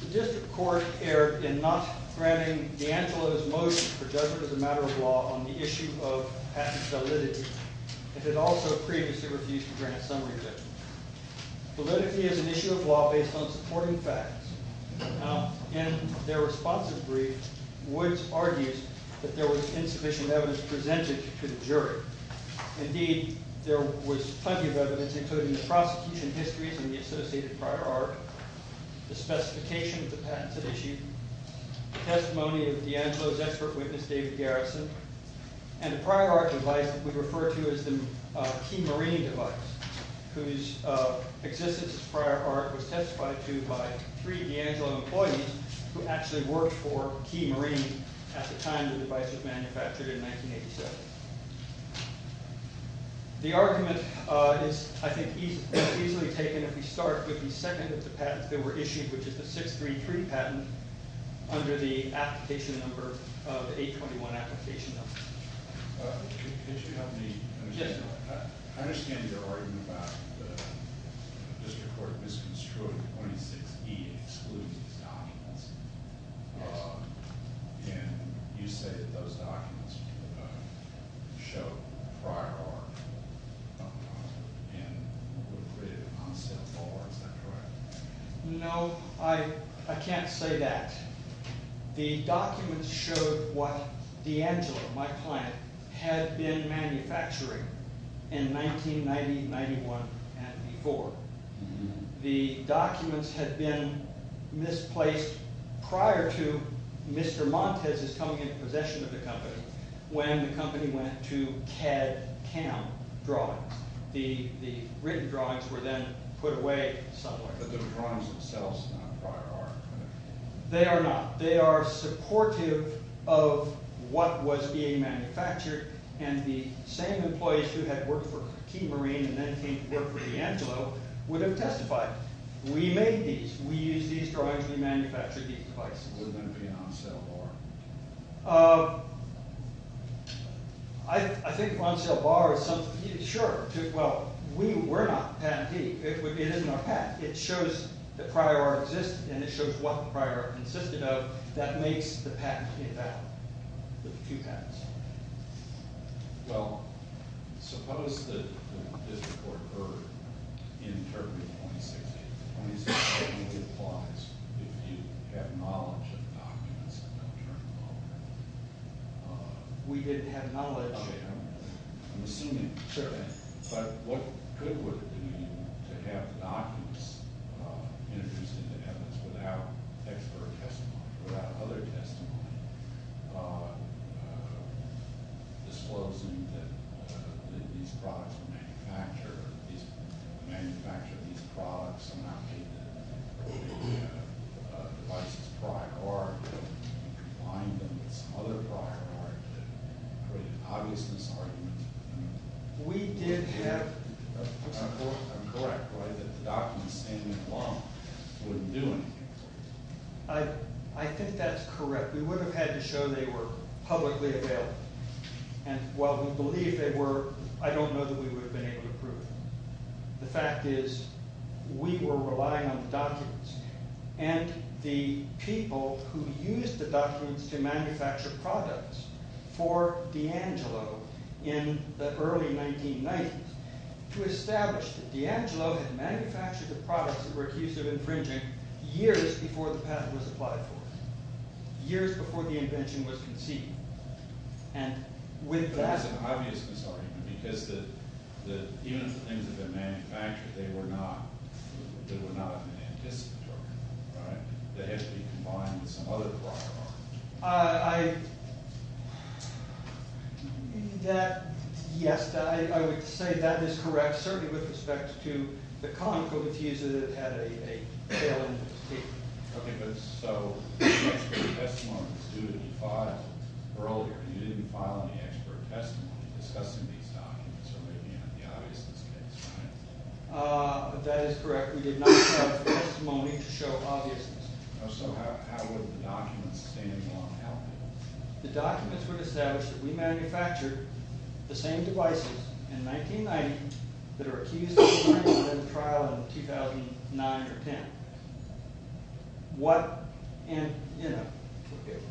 The District Court erred in not granting DEANGELO's motion for judgment on the case of Woodes v. DEANGELO MARINE. Woodes v. DEANGELO MARINE argued that DEANGELO's motion for judgment was a matter of law on the issue of patent validity, and had also previously refused to grant a summary judgment. Politically, as an issue of law based on supporting facts, in their responsive brief, Woodes argues that there was insufficient evidence presented to the jury. Indeed, there was plenty of evidence, including the prosecution histories and the associated prior art, the specification of the patents it issued, the testimony of DEANGELO's expert witness, David Garrison, and the prior art device that we refer to as the Key Marine device, whose existence as prior art was testified to by three DEANGELO employees who actually worked for Key Marine at the time the device was manufactured in 1987. The argument is, I think, easily taken if we start with the second of the patents that were issued, which is the 633 patent under the 821 application number. Can you help me? I understand your argument about the District Court misconstruing 26E, excluding these documents. Can you say that those documents show prior art and would have been on sale forward? Is that correct? No, I can't say that. The documents showed what DEANGELO, my client, had been manufacturing in 1990-91 and before. The documents had been misplaced prior to Mr. Montes' coming into possession of the company when the company went to CAD CAM Drawings. The written drawings were then put away somewhat. But the drawings themselves are not prior art? They are not. They are supportive of what was being manufactured and the same employees who had worked for Key Marine and then came to work for DEANGELO would have testified. We made these. We used these drawings. We manufactured these devices. Would it have been on sale or not? I think on sale or not. Sure. Well, we're not patentee. It isn't our patent. It shows the prior art existed and it shows what the prior art consisted of. That makes the patent a patent. There are two patents. Well, suppose that this report occurred in February of 2016. It technically applies if you have knowledge of the documents. We didn't have knowledge. I'm assuming. Sure. But what good would it be to have documents introduced into evidence without expert testimony, without other testimony disclosing that these products were manufactured. These products were not made by the devices prior art. You could find them in some other prior art that created obvious misarguments. We did have. I'm correct, right, that the documents standing alone wouldn't do anything. I think that's correct. We would have had to show they were publicly available. And while we believe they were, I don't know that we would have been able to prove them. The fact is we were relying on the documents and the people who used the documents to manufacture products for DEANGELO in the early 1990s to establish that DEANGELO had manufactured the products that were accused of infringing years before the patent was applied for. Years before the invention was conceived. And with that... There was an obvious misargument because even if the things had been manufactured, they were not an anticipatory. They had to be combined with some other prior art. I... that... yes, I would say that is correct, certainly with respect to the Conoco teaser that had a tail in its teeth. Okay, but so, the expert testimony was due to be filed earlier. You didn't file any expert testimony discussing these documents or making it the obviousest case, right? That is correct. We did not have testimony to show obviousness. So how would the documents stand along? The documents would establish that we manufactured the same devices in 1990 that are accused of infringement in a trial in 2009 or 10. What... and, you know,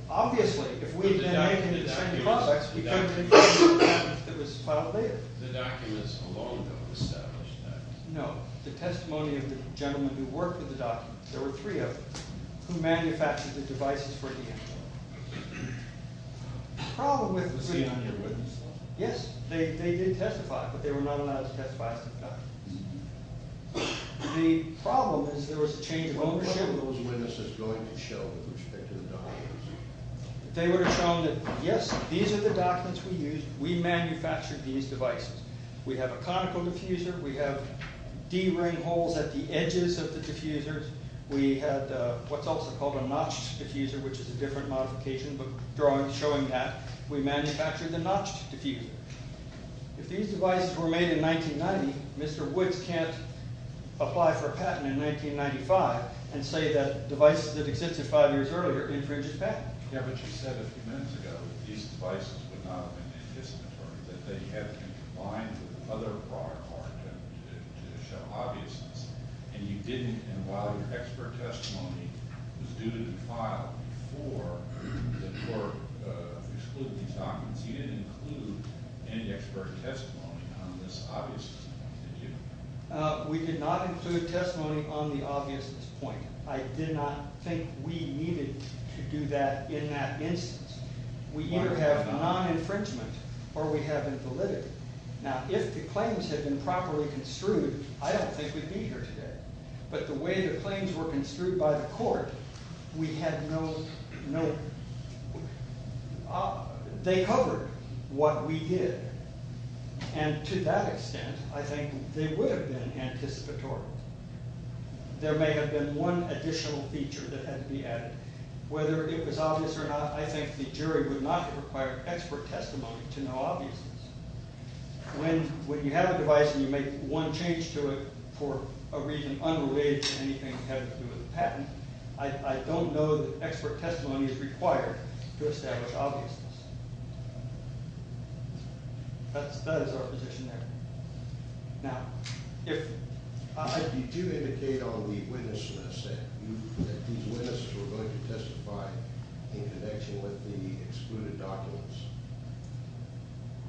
obviously, if we had been making the same products, we couldn't have been able to prove that it was filed later. The documents alone would have established that. No, the testimony of the gentleman who worked with the documents, there were three of them, who manufactured the devices for the end. The problem with the three of them... It was seen on your witness. Yes, they did testify, but they were not allowed to testify as to the documents. The problem is there was a change of ownership... What was the witness going to show with respect to the documents? They would have shown that, yes, these are the documents we used. We manufactured these devices. We have a conical diffuser. We have D-ring holes at the edges of the diffusers. We had what's also called a notched diffuser, which is a different modification, but showing that we manufactured the notched diffuser. If these devices were made in 1990, Mr. Woods can't apply for a patent in 1995 and say that devices that existed five years earlier infringed the patent. Yeah, but you said a few minutes ago that these devices would not have been indisputable, that they had to be combined with other products to show obviousness. And you didn't, and while your expert testimony was due to be filed before the court excluded these documents, you didn't include any expert testimony on this obviousness, did you? We did not include testimony on the obviousness point. I did not think we needed to do that in that instance. We either have non-infringement or we have invalidity. Now, if the claims had been properly construed, I don't think we'd be here today. But the way the claims were construed by the court, they covered what we did. And to that extent, I think they would have been anticipatory. There may have been one additional feature that had to be added. Whether it was obvious or not, I think the jury would not have required expert testimony to know obviousness. When you have a device and you make one change to it for a reason unrelated to anything having to do with a patent, I don't know that expert testimony is required to establish obviousness. That is our position there. Now, if you do indicate on the witness list that these witnesses were going to testify in connection with the excluded documents.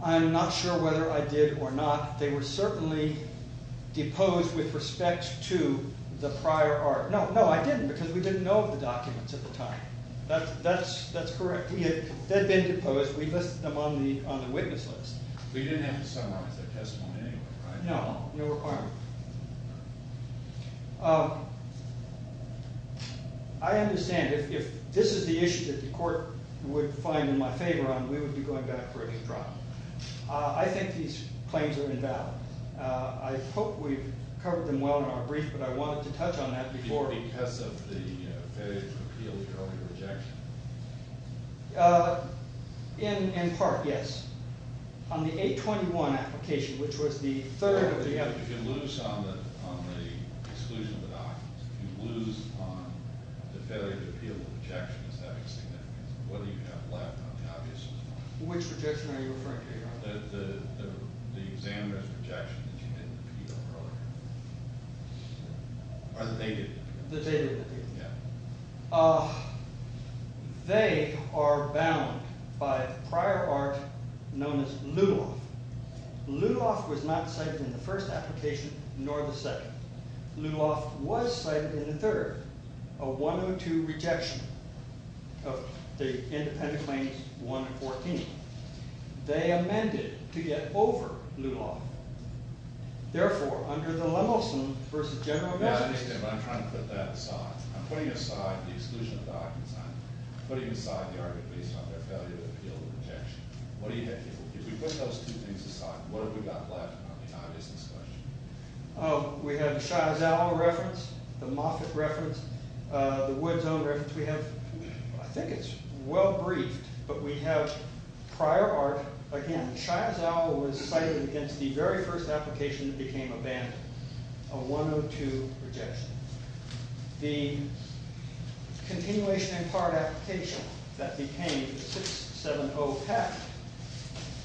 I'm not sure whether I did or not. They were certainly deposed with respect to the prior art. No, I didn't because we didn't know of the documents at the time. That's correct. They had been deposed. We listed them on the witness list. But you didn't have to summarize their testimony anyway, right? No, no requirement. I understand. If this is the issue that the court would find in my favor on, we would be going back for a new trial. I think these claims are invalid. I hope we've covered them well in our brief, but I wanted to touch on that before. In part, yes. On the 821 application, which was the third of the others. If you lose on the exclusion of the documents, if you lose on the failure to appeal the objection, is that insignificant? Whether you have left on the obvious or not? Which objection are you referring to? The examiner's objection that you didn't appeal earlier. Or that they didn't appeal. That they didn't appeal. Yeah. They are bound by prior art known as Luloff. Luloff was not cited in the first application, nor the second. Luloff was cited in the third. A 102 rejection of the independent claims 114. They amended to get over Luloff. Therefore, under the Lemelson v. General Amendment. I understand, but I'm trying to put that aside. I'm putting aside the exclusion of documents. I'm putting aside the argument based on their failure to appeal the objection. If we put those two things aside, what have we got left on the obvious discussion? We have the Shiazal reference, the Moffat reference, the Wood's own reference. We have, I think it's well briefed, but we have prior art. Again, Shiazal was cited against the very first application that became abandoned. A 102 rejection. The continuation in part application that became 670-PEC.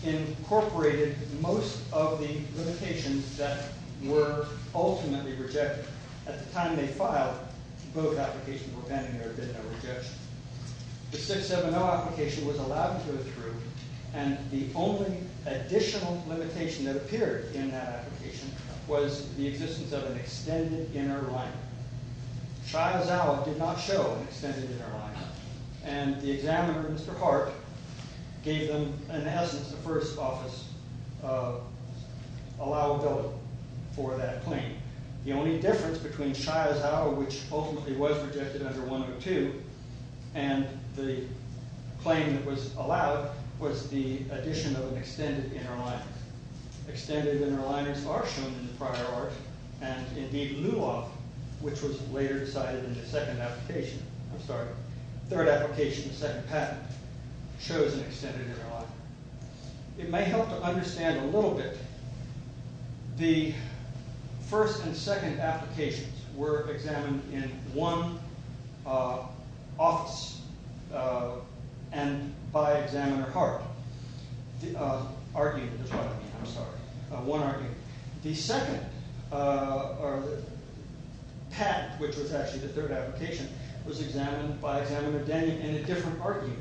Incorporated most of the limitations that were ultimately rejected. At the time they filed, both applications were abandoned and there had been no rejection. The 670 application was allowed to approve. The only additional limitation that appeared in that application was the existence of an extended inner line. Shiazal did not show an extended inner line. The examiner, Mr. Park, gave them, in essence, the first office allowability for that claim. The only difference between Shiazal, which ultimately was rejected under 102. And the claim that was allowed was the addition of an extended inner line. Extended inner liners are shown in the prior art. And indeed, Luloff, which was later cited in the second application. I'm sorry, third application, second patent, shows an extended inner line. It may help to understand a little bit. The first and second applications were examined in one office and by examiner Park. I'm sorry, one argument. The second patent, which was actually the third application, was examined by examiner Daniel in a different argument.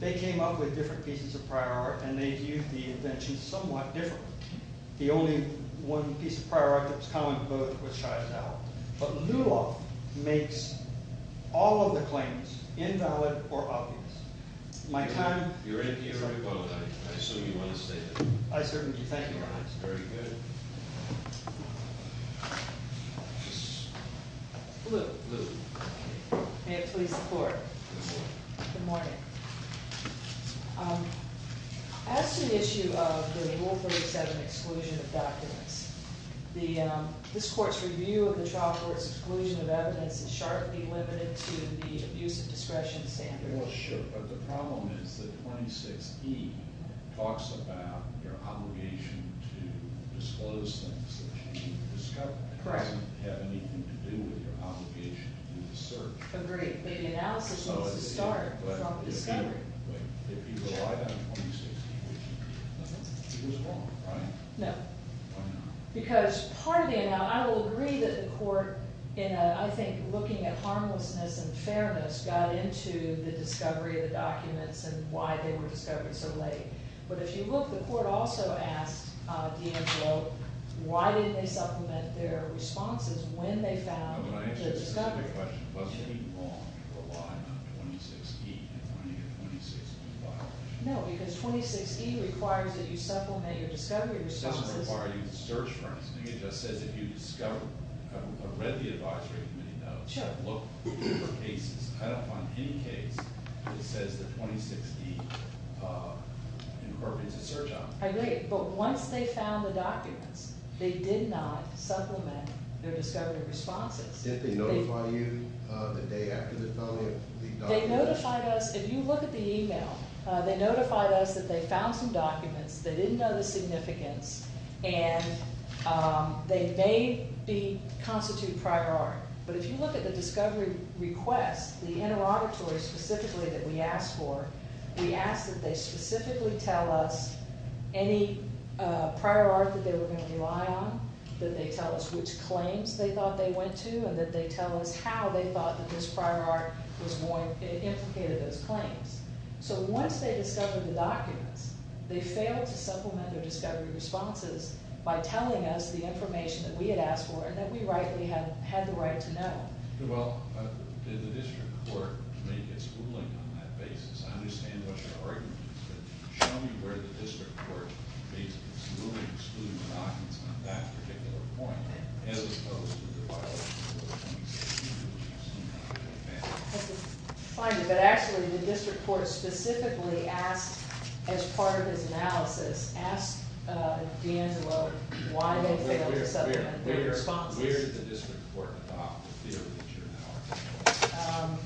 They came up with different pieces of prior art and they viewed the invention somewhat differently. The only one piece of prior art that was common to both was Shiazal. But Luloff makes all of the claims invalid or obvious. My time is up. You're in here to vote. I assume you want to stay in. I certainly do. Thank you very much. Very good. Luloff. May it please the Court. Good morning. As to the issue of the Rule 37 exclusion of documents, this Court's review of the trial court's exclusion of evidence is sharply limited to the abuse of discretion standard. Well, sure. But the problem is that 26E talks about your obligation to disclose things that you've discovered. Correct. It doesn't have anything to do with your obligation to do the search. Agreed. But the analysis needs to start from the discovery. It was wrong, right? No. Why not? Because part of the – I will agree that the Court, in I think looking at harmlessness and fairness, got into the discovery of the documents and why they were discovered so late. But if you look, the Court also asked D'Angelo why didn't they supplement their responses when they found the discovery? When I asked you a specific question, was it wrong to rely on 26E and finding a 26E file? No, because 26E requires that you supplement your discovery responses. It doesn't require you to search, for instance. It just says if you discover – I've read the advisory committee notes. Sure. I've looked for cases. I don't find any case that says that 26E incorporates a search option. Agreed. But once they found the documents, they did not supplement their discovery responses. Did they notify you the day after they found the documents? They notified us. If you look at the email, they notified us that they found some documents. They didn't know the significance, and they may constitute prior art. But if you look at the discovery request, the interrogatory specifically that we asked for, we asked that they specifically tell us any prior art that they were going to rely on, that they tell us which claims they thought they went to, and that they tell us how they thought that this prior art was more implicated in those claims. So once they discovered the documents, they failed to supplement their discovery responses by telling us the information that we had asked for and that we rightly had the right to know. Well, did the district court make its ruling on that basis? I understand what your argument is. But show me where the district court made its ruling, excluding the documents on that particular point, as opposed to the violation of 26E, which you seem to have been a fan of. Actually, the district court specifically asked, as part of his analysis, asked D'Angelo why they failed to supplement their responses. Where did the district court adopt the theory that you're now articulating?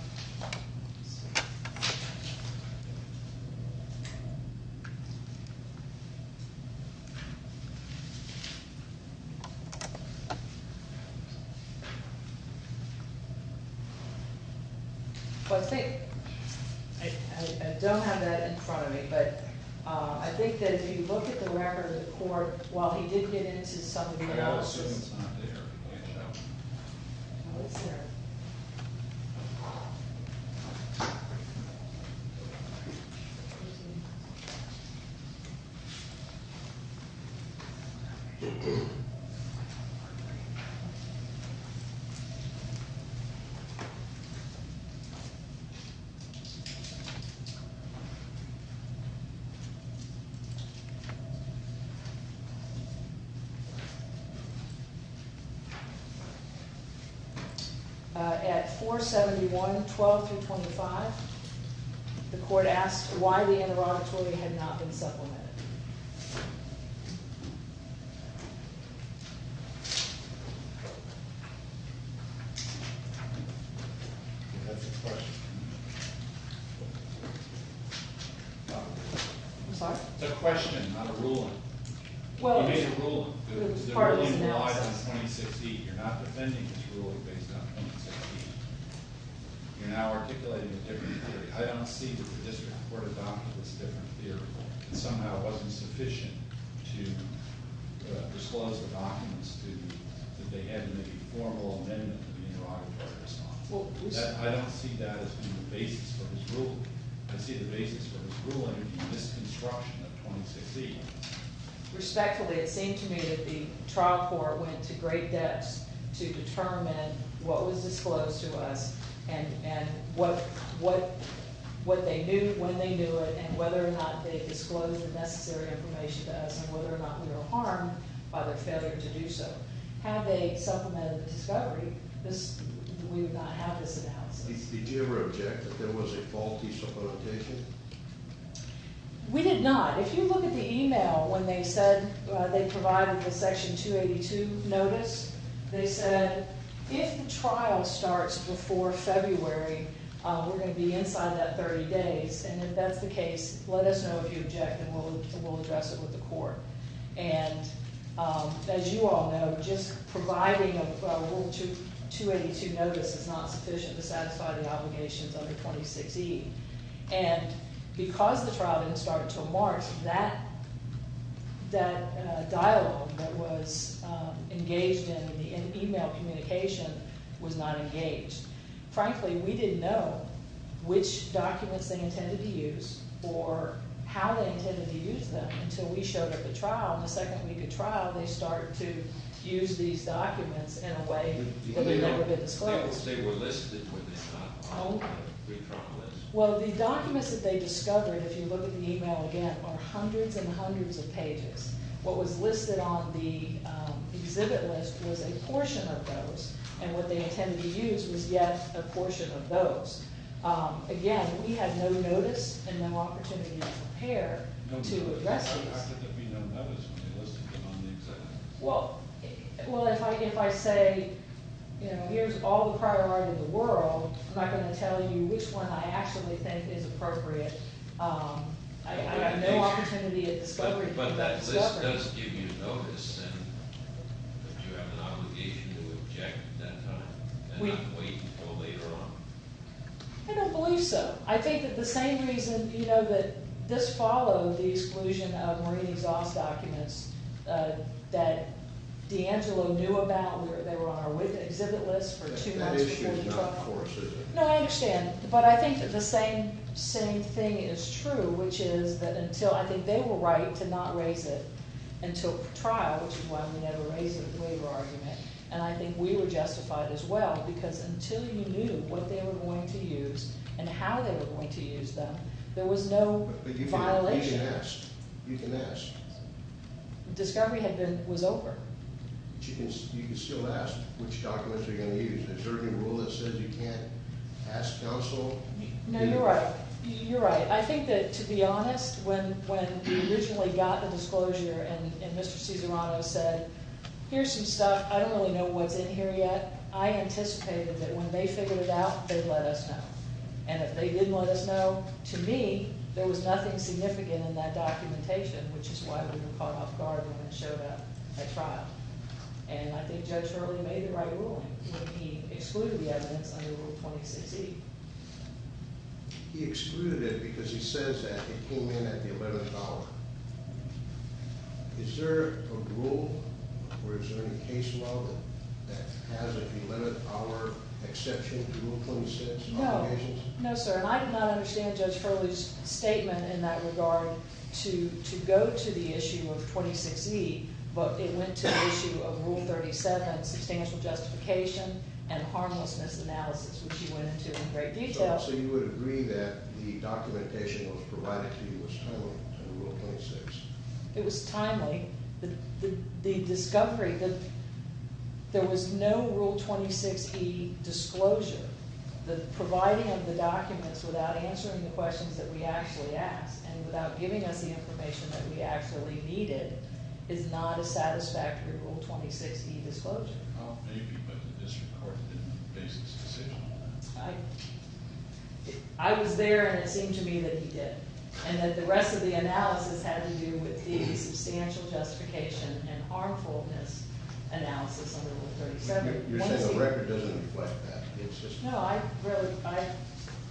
I don't have that in front of me, but I think that if you look at the record of the court, while he did get into some of the analysis... I'm assuming it's not there. It is there. At 471, 12 through 25, the court asked why the interrogatory had not been supplemented. It's a question, not a ruling. You made a ruling. It was part of his analysis. You're not defending his ruling based on 26E. You're now articulating a different theory. I don't see that the district court adopted this different theory. It somehow wasn't sufficient to disclose the documents that they had in the formal amendment to the interrogatory response. I don't see that as being the basis for his ruling. I see the basis for his ruling is the misconstruction of 26E. Respectfully, it seemed to me that the trial court went to great depths to determine what was disclosed to us and what they knew when they knew it and whether or not they disclosed the necessary information to us and whether or not we were harmed by their failure to do so. Had they supplemented the discovery, we would not have this analysis. Did you ever object that there was a faulty supplementation? We did not. If you look at the email when they said they provided the Section 282 notice, they said if the trial starts before February, we're going to be inside that 30 days. If that's the case, let us know if you object and we'll address it with the court. As you all know, just providing a Rule 282 notice is not sufficient to satisfy the obligations under 26E. Because the trial didn't start until March, that dialogue that was engaged in the email communication was not engaged. Frankly, we didn't know which documents they intended to use or how they intended to use them until we showed up at trial and the second week of trial they started to use these documents in a way that had never been disclosed. They were listed when they stopped on the retrial list. Well, the documents that they discovered, if you look at the email again, are hundreds and hundreds of pages. What was listed on the exhibit list was a portion of those and what they intended to use was yet a portion of those. Again, we had no notice and no opportunity to prepare to address these. How could there be no notice when they listed them on the exhibit list? Well, if I say, you know, here's all the priority of the world, I'm not going to tell you which one I actually think is appropriate. I have no opportunity at this point. But that list does give you notice and you have an obligation to object at that time and not wait until later on. I don't believe so. I think that the same reason, you know, that this followed the exclusion of marine exhaust documents that D'Angelo knew about, they were on our exhibit list for two months before the trial. That issue is not for us, is it? No, I understand, but I think that the same thing is true, which is that until I think they were right to not raise it until trial, which is why we never raised it with the waiver argument, and I think we were justified as well because until you knew what they were going to use and how they were going to use them, there was no violation. But you can ask. Discovery was over. But you can still ask which documents they're going to use. Is there any rule that says you can't ask counsel? No, you're right. You're right. I think that, to be honest, when we originally got the disclosure and Mr. Cesarano said, here's some stuff, I don't really know what's in here yet, I anticipated that when they figured it out, they'd let us know. And if they didn't let us know, to me, there was nothing significant in that documentation, which is why we were caught off guard when it showed up at trial. And I think Judge Hurley made the right ruling when he excluded the evidence under Rule 26E. He excluded it because he says that it came in at the $11. Is there a rule or is there any case law that has an $11 exception to Rule 26? No, sir. And I did not understand Judge Hurley's statement in that regard to go to the issue of 26E, but it went to the issue of Rule 37, substantial justification and harmlessness analysis, which he went into in great detail. So you would agree that the documentation that was provided to you was timely under Rule 26? It was timely. The discovery that there was no Rule 26E disclosure, the providing of the documents without answering the questions that we actually asked and without giving us the information that we actually needed is not a satisfactory Rule 26E disclosure. Well, maybe, but the district court didn't make a decision on that. I was there, and it seemed to me that he did, and that the rest of the analysis had to do with the substantial justification and harmfulness analysis under Rule 37. You're saying the record doesn't reflect that. No, I really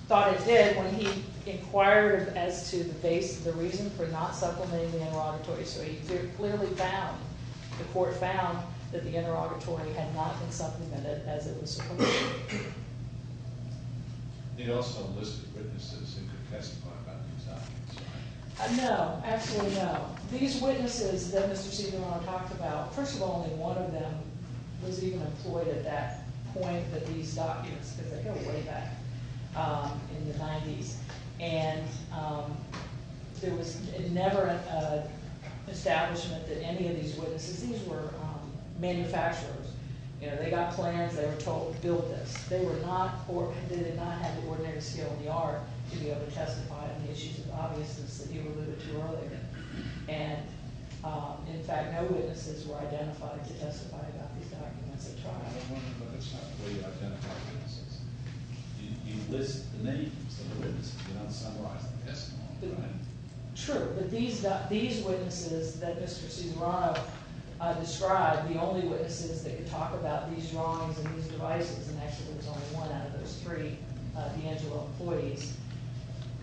thought it did when he inquired as to the reason for not supplementing the interrogatory. So he clearly found, the court found, that the interrogatory had not been supplemented as it was supposed to be. It also listed witnesses who could testify about these documents, right? No, absolutely no. These witnesses that Mr. Segal and I talked about, first of all, only one of them was even employed at that point with these documents, because they go way back in the 90s. And there was never an establishment that any of these witnesses, these were manufacturers, you know, they got plans, they were told, build this. They were not court, they did not have the ordinary skill in the art to be able to testify on the issues of obviousness that you alluded to earlier. And, in fact, no witnesses were identified to testify about these documents at trial. I was wondering if that's not the way you identify witnesses. You list the names of the witnesses, you don't summarize the testimony, right? True, but these witnesses that Mr. Cesarano described, the only witnesses that could talk about these drawings and these devices, and actually there was only one out of those three D'Angelo employees,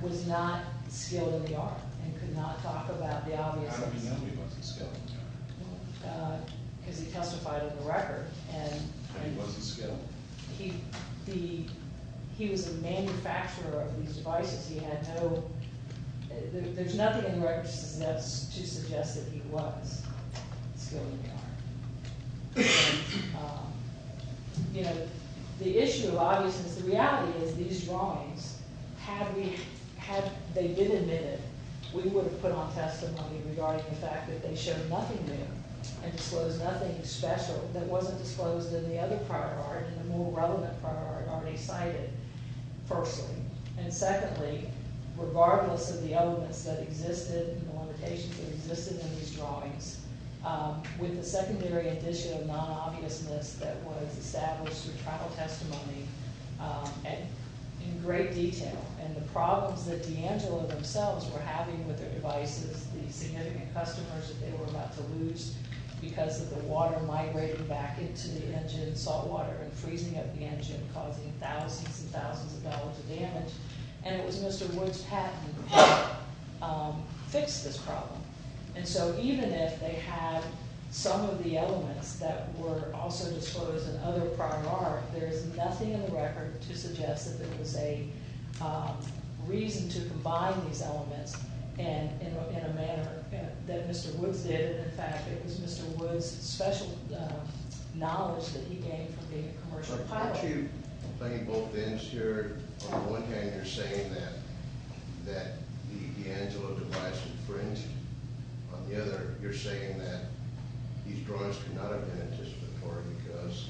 was not skilled in the art and could not talk about the obviousness. How do you know he wasn't skilled in the art? Because he testified on the record. And he wasn't skilled? He was a manufacturer of these devices. He had no, there's nothing in the records to suggest that he was skilled in the art. You know, the issue of obviousness, the reality is these drawings, had they been admitted, we would have put on testimony regarding the fact that they showed nothing new and disclosed nothing special that wasn't disclosed in the other prior art, in the more relevant prior art already cited, firstly. And secondly, regardless of the elements that existed, the limitations that existed in these drawings, with the secondary addition of non-obviousness that was established through trial testimony in great detail. And the problems that D'Angelo themselves were having with their devices, the significant customers that they were about to lose because of the water migrating back into the engine, salt water and freezing up the engine, causing thousands and thousands of dollars of damage. And it was Mr. Woods' patent that fixed this problem. And so even if they had some of the elements that were also disclosed in other prior art, there is nothing in the record to suggest that there was a reason to combine these elements in a manner that Mr. Woods did. And in fact, it was Mr. Woods' special knowledge that he gained from being a commercial pilot. Why aren't you playing both ends here? On the one hand, you're saying that the D'Angelo device infringed. On the other, you're saying that these drawings could not have been anticipatory because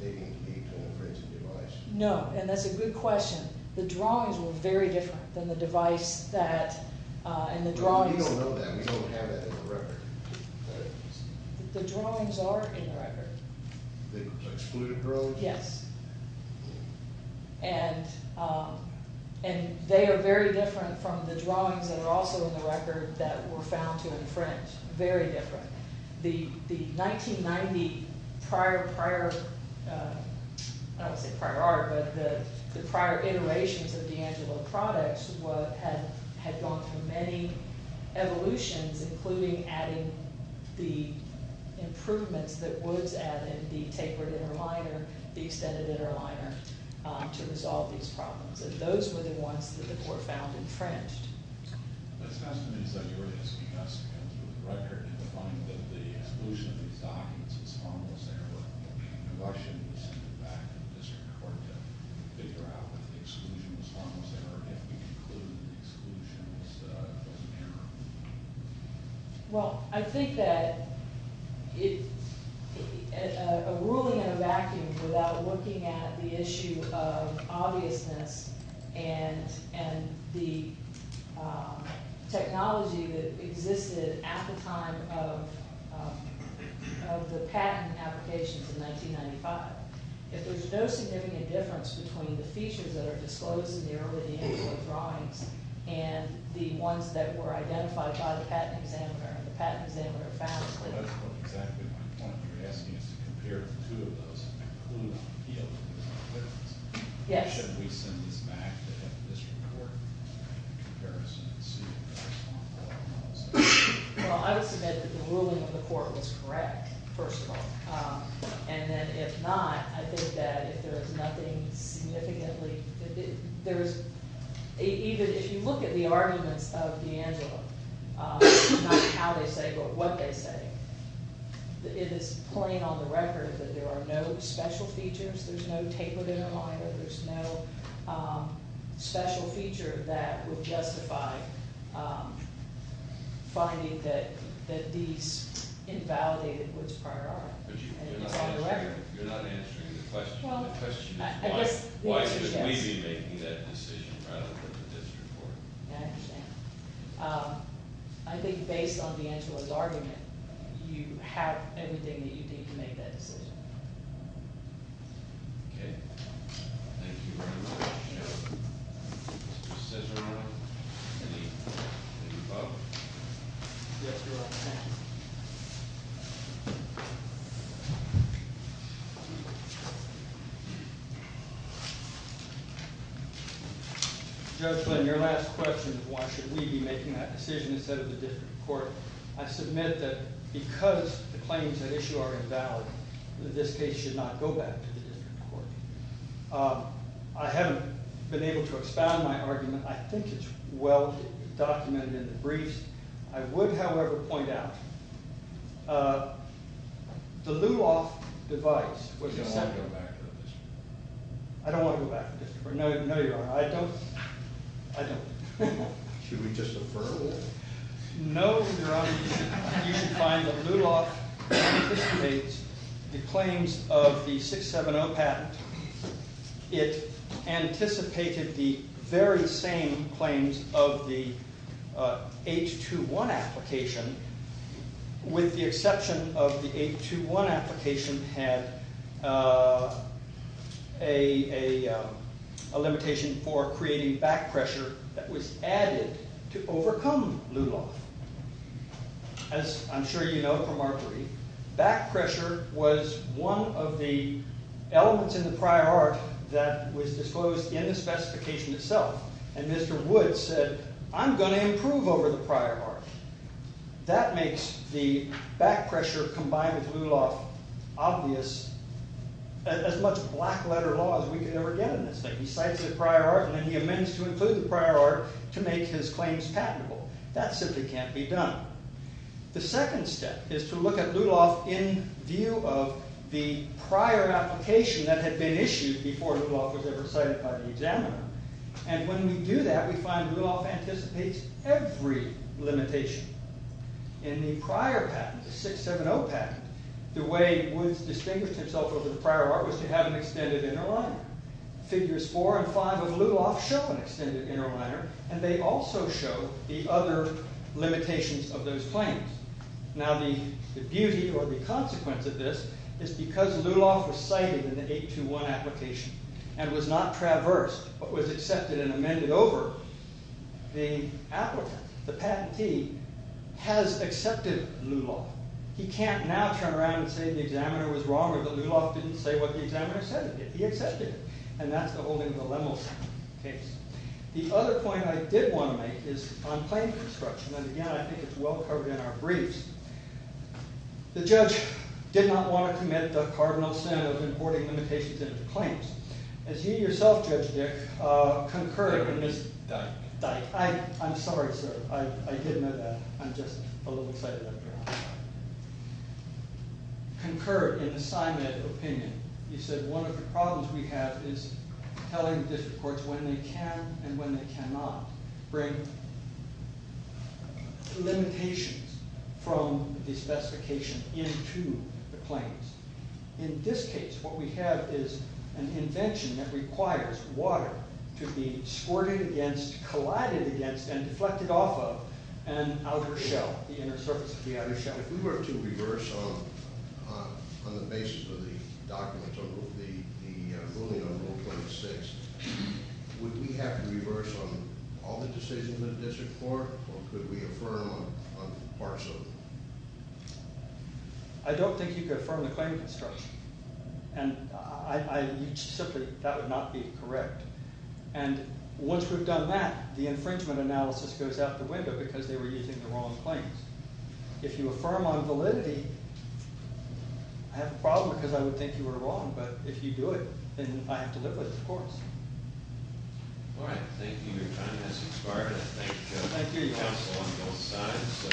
they didn't meet the infringement device. No, and that's a good question. The drawings were very different than the device that – and the drawings – You don't know that. We don't have that in the record. The drawings are in the record. They were excluded early? Yes. And they are very different from the drawings that are also in the record that were found to infringe. Very different. The 1990 prior – I don't want to say prior art, but the prior iterations of D'Angelo products had gone through many evolutions, including adding the improvements that Woods added, the tapered inner liner, the extended inner liner, to resolve these problems. And those were the ones that were found infringed. It's fascinating that you're asking us to come through the record and to find that the exclusion of these documents is harmless error. I shouldn't have to send it back to the district court to figure out whether the exclusion was harmless error if we conclude that the exclusion was an error. Well, I think that a ruling in a vacuum without looking at the issue of obviousness and the technology that existed at the time of the patent applications in 1995, if there's no significant difference between the features that are disclosed in the early D'Angelo drawings and the ones that were identified by the patent examiner and the patent examiner found – That's exactly my point. You're asking us to compare the two of those and conclude the difference. Yes. Should we send these back to the district court in comparison to see if they're responsible or not? Well, I would submit that the ruling of the court was correct, first of all. And then if not, I think that if there is nothing significantly – even if you look at the arguments of D'Angelo, not how they say but what they say, it is plain on the record that there are no special features, there's no tapered inner liner, there's no special feature that would justify finding that these invalidated woods prior are. But you're not answering the question. The question is why should we be making that decision rather than the district court. I understand. I think based on D'Angelo's argument, you have everything that you need to make that decision. Okay. Thank you very much. Mr. Cesarano, any vote? Yes, Your Honor. Judge Flynn, your last question is why should we be making that decision instead of the district court. I submit that because the claims at issue are invalid, that this case should not go back to the district court. I haven't been able to expound my argument. I think it's well documented in the briefs. I would, however, point out the Luloff device was – You don't want to go back to the district court. I don't want to go back to the district court. No, Your Honor. I don't. I don't. Should we just defer? No, Your Honor. You should find that Luloff anticipates the claims of the 670 patent. It anticipated the very same claims of the 821 application. With the exception of the 821 application had a limitation for creating back pressure that was added to overcome Luloff. As I'm sure you know from our brief, back pressure was one of the elements in the prior art that was disclosed in the specification itself. And Mr. Wood said, I'm going to improve over the prior art. That makes the back pressure combined with Luloff obvious as much black letter law as we could ever get in this thing. He cites the prior art and then he amends to include the prior art to make his claims patentable. That simply can't be done. The second step is to look at Luloff in view of the prior application that had been issued before Luloff was ever cited by the examiner. And when we do that, we find Luloff anticipates every limitation. In the prior patent, the 670 patent, the way Woods distinguished himself over the prior art was to have an extended inner liner. Figures 4 and 5 of Luloff show an extended inner liner and they also show the other limitations of those claims. Now the beauty or the consequence of this is because Luloff was cited in the 821 application and was not traversed but was accepted and amended over, the patentee has accepted Luloff. He can't now turn around and say the examiner was wrong or the Luloff didn't say what the examiner said. He accepted it. And that's the whole thing with the Lemel case. The other point I did want to make is on claim construction. And again, I think it's well covered in our briefs. The judge did not want to commit the cardinal sin of importing limitations into claims. As you yourself, Judge Dick, concurred in this. I'm sorry, sir. I did know that. I'm just a little excited I'm here. Concurred in the Simon opinion. You said one of the problems we have is telling the district courts when they can and when they cannot bring limitations from the specification into the claims. In this case, what we have is an invention that requires water to be squirted against, collided against, and deflected off of an outer shell, the inner surface of the outer shell. If we were to reverse on the basis of the documents of the ruling on Rule 26, would we have to reverse on all the decisions of the district court or could we affirm on parts of them? I don't think you could affirm the claim construction. And simply, that would not be correct. And once we've done that, the infringement analysis goes out the window because they were using the wrong claims. If you affirm on validity, I have a problem because I would think you were wrong, but if you do it, then I have to live with it, of course. All right. Thank you. Your time has expired. Thank you, counsel, on both sides.